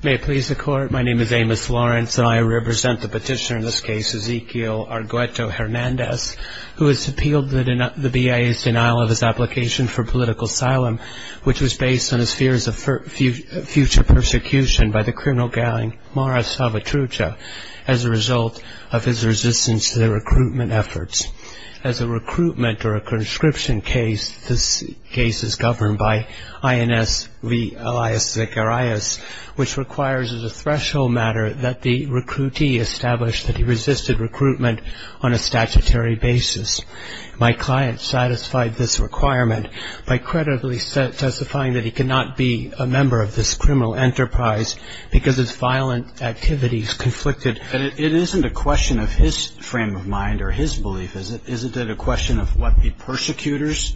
May I please the court? My name is Amos Lawrence and I represent the petitioner in this case, Ezequiel Argueto-Hernandez, who has appealed the BIA's denial of his application for political asylum, which was based on his fears of future persecution by the criminal gang Mara Salvatrucha, as a result of his resistance to the recruitment of the BIA. As a recruitment or a conscription case, this case is governed by INS v. Elias Zacharias, which requires as a threshold matter that the recruitee establish that he resisted recruitment on a statutory basis. My client satisfied this requirement by credibly testifying that he could not be a member of this criminal enterprise because his violent activities conflicted. It isn't a question of his frame of mind or his belief, is it? Isn't it a question of what the persecutors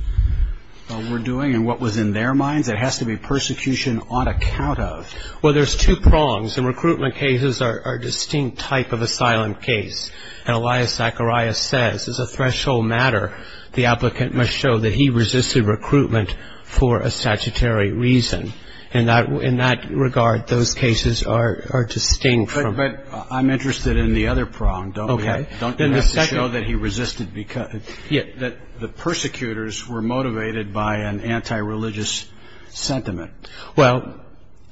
were doing and what was in their minds? It has to be persecution on account of. Well, there's two prongs. And recruitment cases are a distinct type of asylum case. And Elias Zacharias says as a threshold matter, the applicant must show that he resisted recruitment for a statutory reason. In that regard, those cases are distinct from. But I'm interested in the other prong. Okay. Don't you have to show that he resisted because. Yeah. That the persecutors were motivated by an anti-religious sentiment. Well,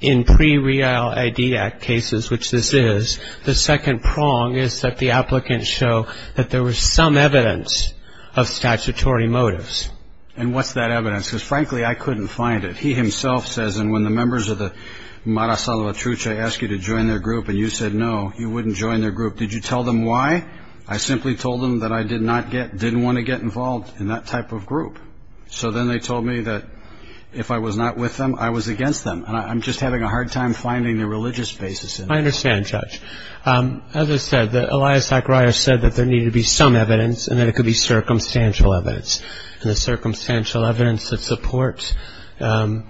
in pre-Real ID Act cases, which this is, the second prong is that the applicants show that there was some evidence of statutory motives. And what's that evidence? Because, frankly, I couldn't find it. He himself says, and when the members of the Mara Salvatrucha ask you to join their group and you said no, you wouldn't join their group. Did you tell them why? I simply told them that I did not get, didn't want to get involved in that type of group. So then they told me that if I was not with them, I was against them. I'm just having a hard time finding the religious basis. I understand, Judge. As I said, Elias Zacharias said that there needed to be some evidence and that it could be circumstantial evidence. And the circumstantial evidence that supports the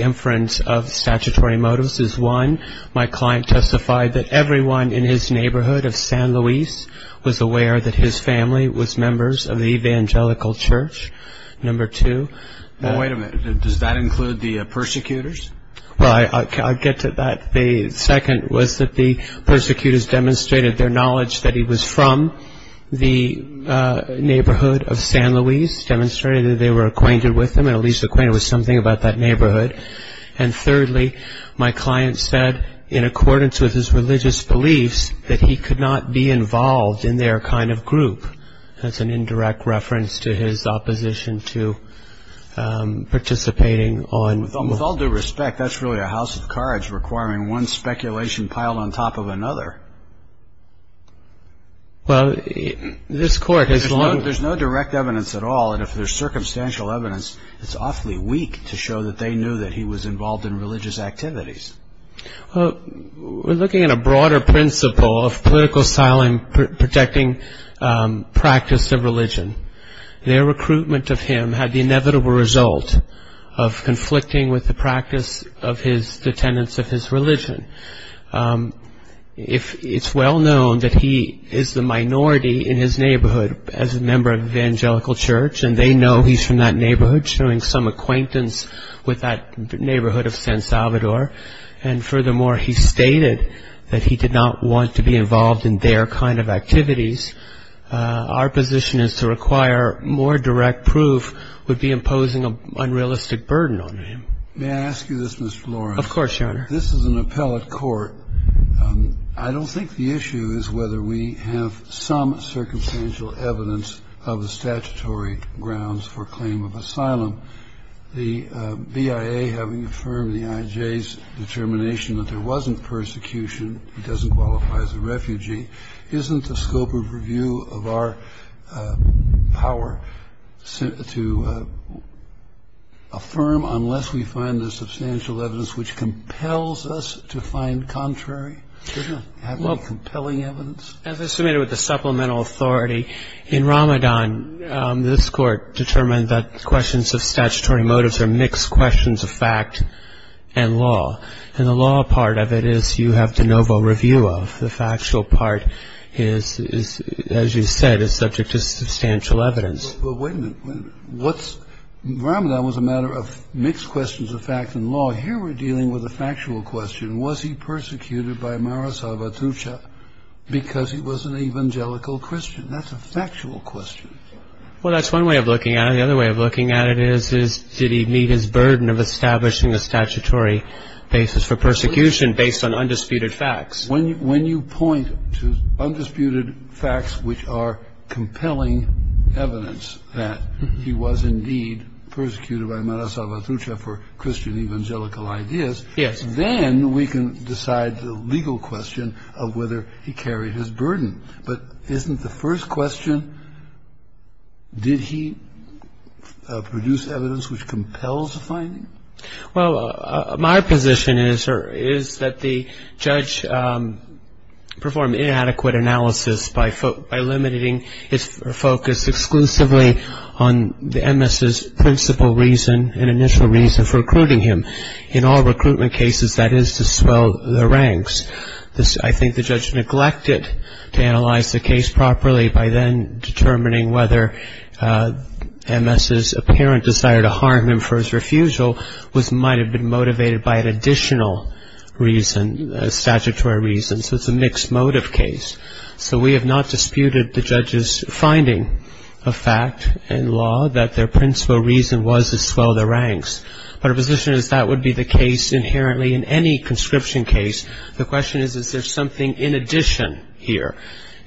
inference of statutory motives is, one, my client testified that everyone in his neighborhood of San Luis was aware that his family was members of the Evangelical Church. Number two. Wait a minute. Does that include the persecutors? Well, I'll get to that. The second was that the persecutors demonstrated their knowledge that he was from the neighborhood of San Luis, demonstrated that they were acquainted with him and at least acquainted with something about that neighborhood. And thirdly, my client said, in accordance with his religious beliefs, that he could not be involved in their kind of group. That's an indirect reference to his opposition to participating on... With all due respect, that's really a house of cards requiring one speculation piled on top of another. Well, this court has... There's no direct evidence at all, and if there's circumstantial evidence, it's awfully weak to show that they knew that he was involved in religious activities. We're looking at a broader principle of political asylum protecting practice of religion. Their recruitment of him had the inevitable result of conflicting with the practice of his... the tenets of his religion. It's well known that he is the minority in his neighborhood as a member of the evangelical church, and they know he's from that neighborhood, showing some acquaintance with that neighborhood of San Salvador. And furthermore, he stated that he did not want to be involved in their kind of activities. Our position is to require more direct proof would be imposing an unrealistic burden on him. May I ask you this, Mr. Lawrence? Of course, Your Honor. This is an appellate court. I don't think the issue is whether we have some circumstantial evidence of the statutory grounds for claim of asylum. The BIA having affirmed the IJ's determination that there wasn't persecution, he doesn't qualify as a refugee, isn't the scope of review of our power to affirm unless we find the substantial evidence which compels us to find contrary? Doesn't it have any compelling evidence? As I submitted with the supplemental authority, in Ramadan, this court determined that questions of statutory motives are mixed questions of fact and law. And the law part of it is you have de novo review of. The factual part is, as you said, is subject to substantial evidence. But wait a minute. Ramadan was a matter of mixed questions of fact and law. Here we're dealing with a factual question. Was he persecuted by Mara Sabatucci because he was an evangelical Christian? That's a factual question. Well, that's one way of looking at it. And the other way of looking at it is, did he meet his burden of establishing a statutory basis for persecution based on undisputed facts? When you point to undisputed facts which are compelling evidence that he was indeed persecuted by Mara Sabatucci for Christian evangelical ideas, then we can decide the legal question of whether he carried his burden. But isn't the first question, did he produce evidence which compels a finding? Well, my position is that the judge performed inadequate analysis by eliminating his focus exclusively on the MS's principal reason, an initial reason for recruiting him. In all recruitment cases, that is to swell the ranks. I think the judge neglected to analyze the case properly by then determining whether MS's apparent desire to harm him for his refusal might have been motivated by an additional reason, a statutory reason. So it's a mixed motive case. So we have not disputed the judge's finding of fact and law that their principal reason was to swell the ranks. But our position is that would be the case inherently in any conscription case. The question is, is there something in addition here?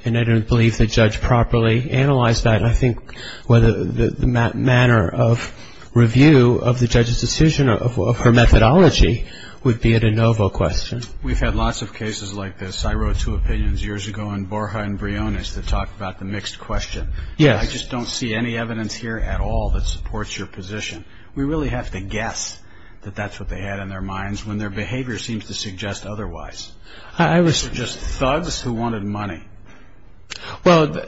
And I don't believe the judge properly analyzed that. And I think the manner of review of the judge's decision of her methodology would be a de novo question. We've had lots of cases like this. I wrote two opinions years ago on Borja and Briones that talked about the mixed question. I just don't see any evidence here at all that supports your position. We really have to guess that that's what they had in their minds when their behavior seems to suggest otherwise. They're just thugs who wanted money. Well,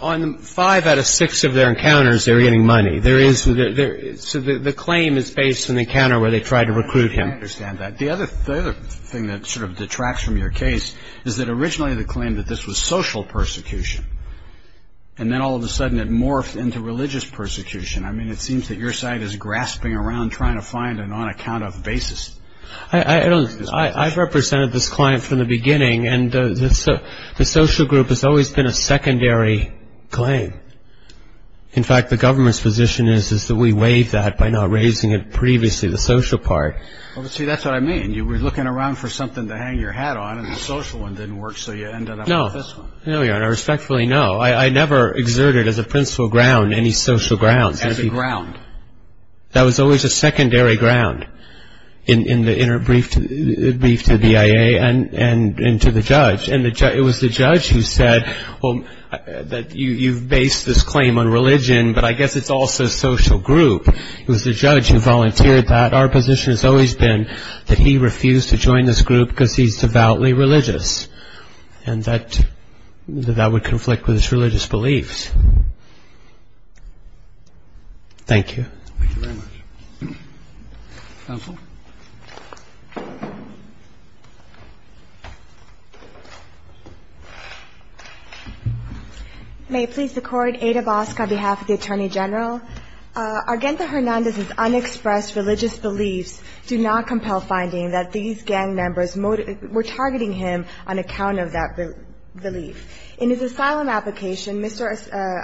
on five out of six of their encounters, they're getting money. So the claim is based on the encounter where they tried to recruit him. I understand that. The other thing that sort of detracts from your case is that originally the claim that this was social persecution, and then all of a sudden it morphed into religious persecution. I mean, it seems that your side is grasping around trying to find an on-account-of basis. I've represented this client from the beginning, and the social group has always been a secondary claim. In fact, the government's position is that we waived that by not raising it previously, the social part. See, that's what I mean. You were looking around for something to hang your hat on, and the social one didn't work, so you ended up with this one. No, Your Honor. Respectfully, no. I never exerted as a principal ground any social grounds. As a ground. That was always a secondary ground in the brief to the BIA and to the judge. And it was the judge who said, well, you've based this claim on religion, but I guess it's also social group. It was the judge who volunteered that. Our position has always been that he refused to join this group because he's devoutly religious, and that that would conflict with his religious beliefs. Thank you. Thank you very much. Counsel. May it please the Court. Ada Bosk on behalf of the Attorney General. Argento Hernandez's unexpressed religious beliefs do not compel finding that these gang members were targeting him on account of that belief. In his asylum application, Mr.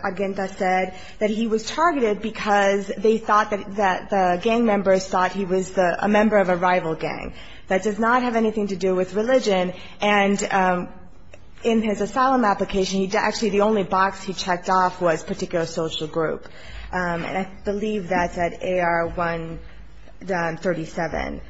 Argento said that he was targeted because they thought that the gang members thought he was a member of a rival gang. That does not have anything to do with religion. And in his asylum application, actually the only box he checked off was particular social group. And I believe that's at AR-137.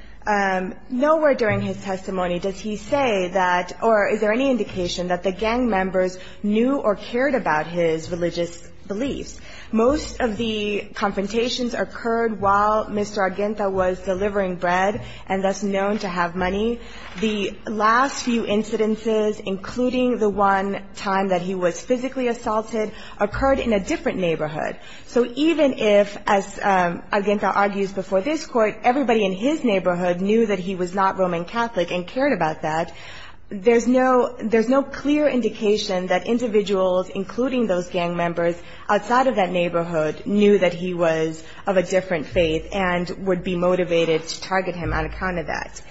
Nowhere during his testimony does he say that or is there any indication that the gang members knew or cared about his religious beliefs. Most of the confrontations occurred while Mr. Argento was delivering bread and thus known to have money. The last few incidences, including the one time that he was physically assaulted, occurred in a different neighborhood. So even if, as Argento argues before this Court, everybody in his neighborhood knew that he was not Roman Catholic and cared about that, there's no clear indication that individuals, including those gang members outside of that neighborhood, knew that he was of a different faith and would be motivated to target him on account of that.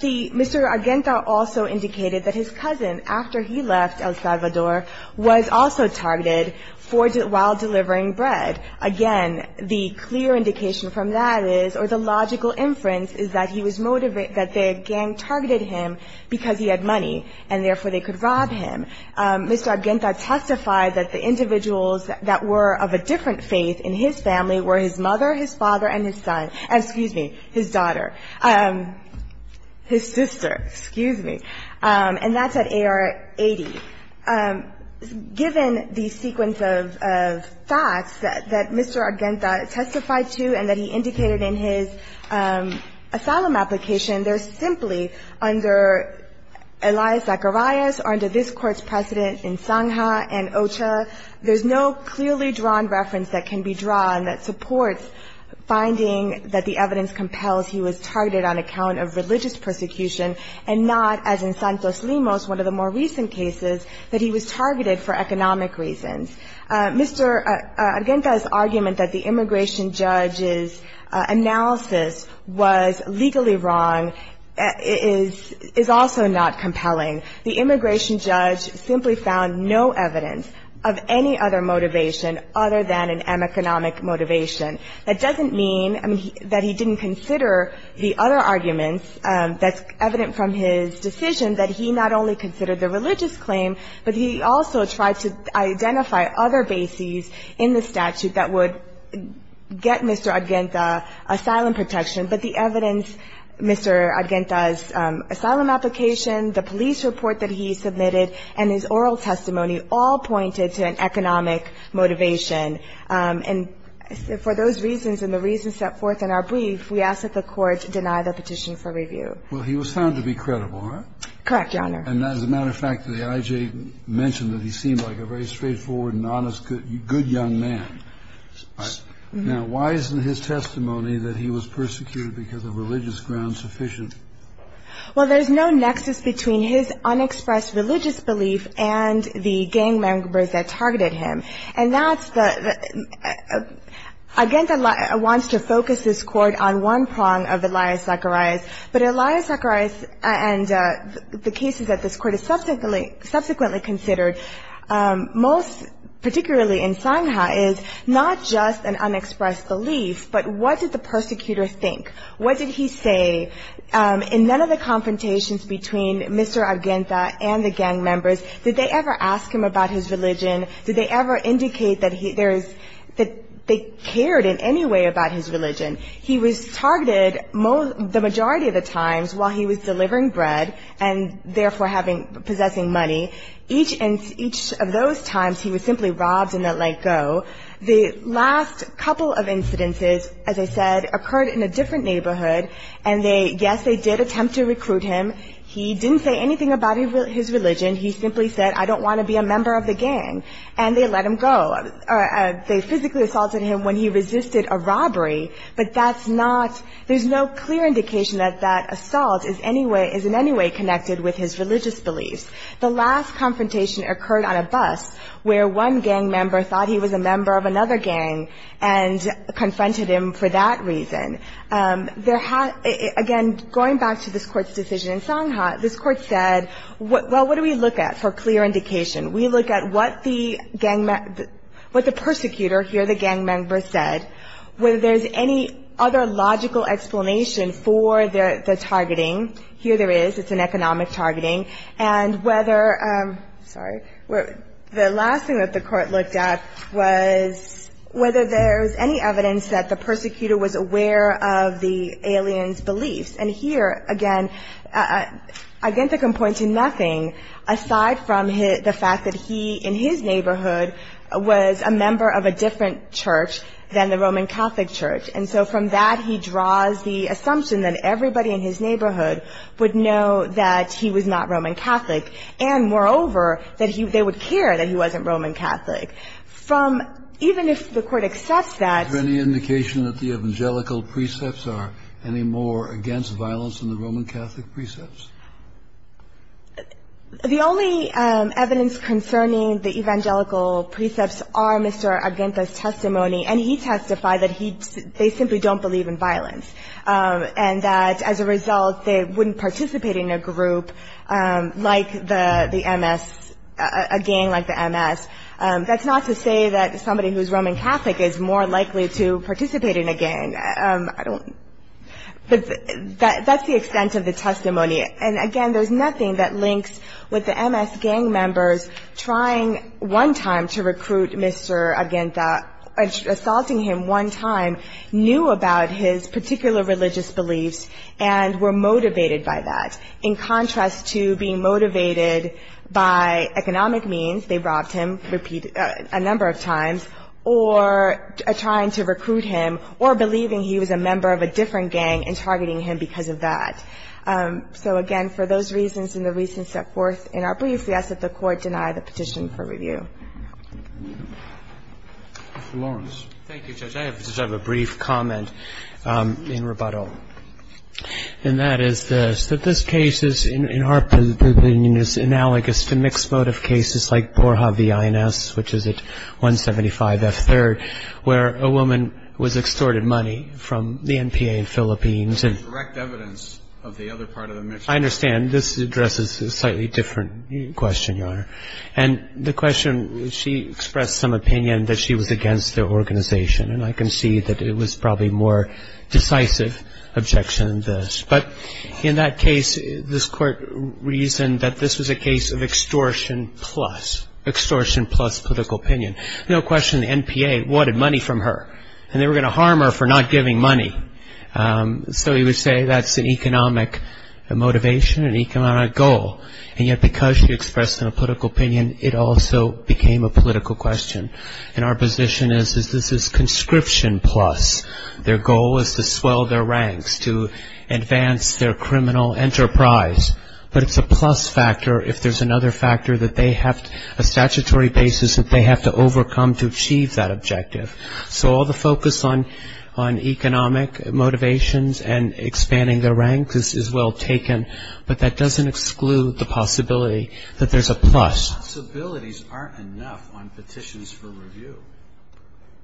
The Mr. Argento also indicated that his cousin, after he left El Salvador, was also targeted while delivering bread. Again, the clear indication from that is or the logical inference is that he was motivated that the gang targeted him because he had money and therefore they could rob him. Mr. Argento testified that the individuals that were of a different faith in his family were his mother, his father, and his son and, excuse me, his daughter, his sister. Excuse me. And that's at AR 80. Given the sequence of facts that Mr. Argento testified to and that he indicated in his asylum application, they're simply under Elias Zacharias or under this Court's precedent in Sangha and Ocha. There's no clearly drawn reference that can be drawn that supports finding that the evidence compels he was targeted on account of religious persecution and not, as in Santos Limos, one of the more recent cases, that he was targeted for economic reasons. Mr. Argento's argument that the immigration judge's analysis was legally wrong is also not compelling. The immigration judge simply found no evidence of any other motivation other than an economic motivation. That doesn't mean that he didn't consider the other arguments that's evident from his decision that he not only considered the religious claim, but he also tried to identify other bases in the statute that would get Mr. Argento asylum protection. But the evidence, Mr. Argento's asylum application, the police report that he submitted, and his oral testimony all pointed to an economic motivation. And for those reasons and the reasons set forth in our brief, we ask that the Court deny the petition for review. Well, he was found to be credible, huh? Correct, Your Honor. And as a matter of fact, the IJ mentioned that he seemed like a very straightforward and honest good young man. Now, why isn't his testimony that he was persecuted because of religious grounds sufficient? Well, there's no nexus between his unexpressed religious belief and the gang members that targeted him. And that's the – Argento wants to focus this Court on one prong of Elias Zacharias, but Elias Zacharias and the cases that this Court has subsequently considered, most particularly in Sangha, is not just an unexpressed belief, but what did the persecutor think? What did he say? In none of the confrontations between Mr. Argento and the gang members, did they ever ask him about his religion? Did they ever indicate that he – that they cared in any way about his religion? He was targeted the majority of the times while he was delivering bread and therefore having – possessing money. Each of those times, he was simply robbed and let go. The last couple of incidences, as I said, occurred in a different neighborhood, and they – yes, they did attempt to recruit him. He didn't say anything about his religion. He simply said, I don't want to be a member of the gang, and they let him go. They physically assaulted him when he resisted a robbery, but that's not – there's no clear indication that that assault is any way – is in any way connected with his religious beliefs. The last confrontation occurred on a bus where one gang member thought he was a member of another gang and confronted him for that reason. There had – again, going back to this Court's decision in Sangha, this Court said, well, what do we look at for clear indication? We look at what the gang – what the persecutor, here the gang member, said. Whether there's any other logical explanation for the targeting. Here there is. It's an economic targeting. And whether – sorry. The last thing that the Court looked at was whether there's any evidence that the persecutor was aware of the alien's beliefs. And here, again, Agente can point to nothing aside from the fact that he, in his neighborhood, was a member of a different church than the Roman Catholic church. And so from that, he draws the assumption that everybody in his neighborhood would know that he was not Roman Catholic. And, moreover, that he – they would care that he wasn't Roman Catholic. From – even if the Court accepts that – Is there any indication that the evangelical precepts are any more against violence than the Roman Catholic precepts? The only evidence concerning the evangelical precepts are Mr. Agente's testimony. And he testified that he – they simply don't believe in violence. And that, as a result, they wouldn't participate in a group like the MS – a gang like the MS. That's not to say that somebody who's Roman Catholic is more likely to participate in a gang. I don't – but that's the extent of the testimony. And, again, there's nothing that links with the MS gang members trying one time to recruit Mr. Agente, assaulting him one time, knew about his particular religious beliefs, and were motivated by that. In contrast to being motivated by economic means – they robbed him, a number of times – or trying to recruit him, or believing he was a member of a different gang and targeting him because of that. So, again, for those reasons and the reasons set forth in our brief, we ask that the Court deny the petition for review. Mr. Lawrence. Thank you, Judge. I just have a brief comment in rebuttal. And that is this, that this case is, in our opinion, is analogous to mixed motive cases like Borja v. INS, which is at 175 F3rd, where a woman was extorted money from the NPA in Philippines. It's correct evidence of the other part of the mix. I understand. This addresses a slightly different question, Your Honor. And the question – she expressed some opinion that she was against the organization. And I can see that it was probably a more decisive objection than this. But in that case, this Court reasoned that this was a case of extortion plus – extortion plus political opinion. No question the NPA wanted money from her, and they were going to harm her for not giving money. So you would say that's an economic motivation, an economic goal. And yet because she expressed a political opinion, it also became a political question. And our position is this is conscription plus. Their goal is to swell their ranks, to advance their criminal enterprise. But it's a plus factor if there's another factor that they have – that they have to overcome to achieve that objective. So all the focus on economic motivations and expanding their ranks is well taken, but that doesn't exclude the possibility that there's a plus. Possibilities aren't enough on petitions for review.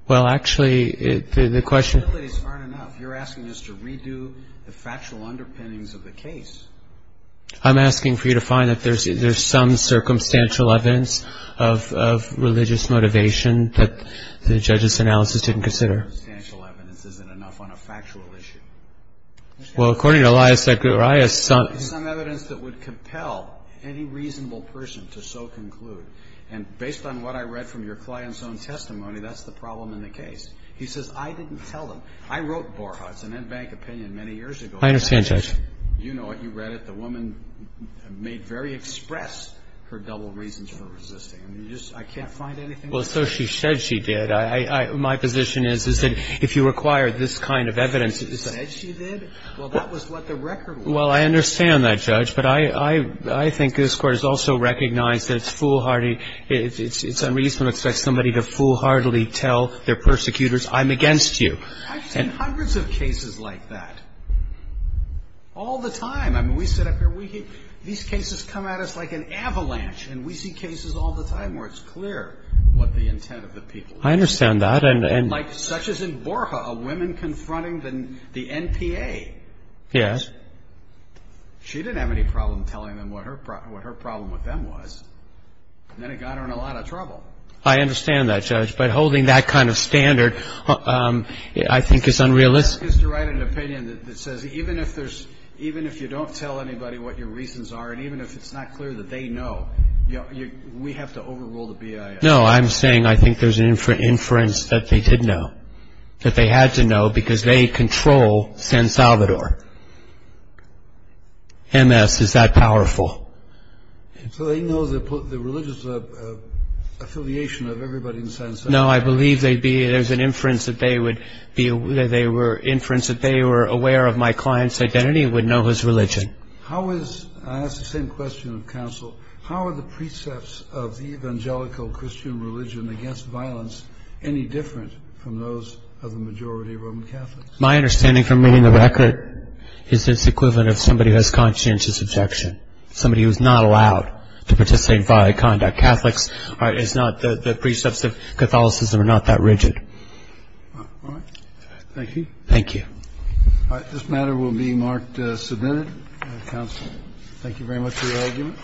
Well, actually, the question – Possibilities aren't enough. You're asking us to redo the factual underpinnings of the case. I'm asking for you to find that there's some circumstantial evidence of religious motivation that the judge's analysis didn't consider. Circumstantial evidence isn't enough on a factual issue. Well, according to Elias – Some evidence that would compel any reasonable person to so conclude. And based on what I read from your client's own testimony, that's the problem in the case. He says, I didn't tell them. I wrote Borhat's and Enbank opinion many years ago. I understand, Judge. You know it. You read it. The woman made very express her double reasons for resisting. I mean, you just – I can't find anything else. Well, so she said she did. My position is, is that if you require this kind of evidence – She said she did? Well, that was what the record was. Well, I understand that, Judge. But I think this Court has also recognized that it's foolhardy – it's unreasonable to expect somebody to foolhardily tell their persecutors, I'm against you. I've seen hundreds of cases like that. All the time. I mean, we sit up here. These cases come at us like an avalanche. And we see cases all the time where it's clear what the intent of the people. I understand that. And like such as in Borhat, a woman confronting the NPA. Yes. She didn't have any problem telling them what her problem with them was. And then it got her in a lot of trouble. I understand that, Judge. But holding that kind of standard, I think, is unrealistic. That is to write an opinion that says even if you don't tell anybody what your reasons are, and even if it's not clear that they know, we have to overrule the BIS. No, I'm saying I think there's an inference that they did know, that they had to know because they control San Salvador. MS is that powerful. So they know the religious affiliation of everybody in San Salvador. No, I believe there's an inference that they were aware of my client's identity and would know his religion. I ask the same question of counsel. How are the precepts of the evangelical Christian religion against violence any different from those of the majority of Roman Catholics? My understanding from reading the record is it's the equivalent of somebody who has conscientious objection. Somebody who is not allowed to participate in violent conduct. Catholics is not the precepts of Catholicism are not that rigid. All right. Thank you. Thank you. All right. This matter will be marked submitted. Counsel, thank you very much for your argument.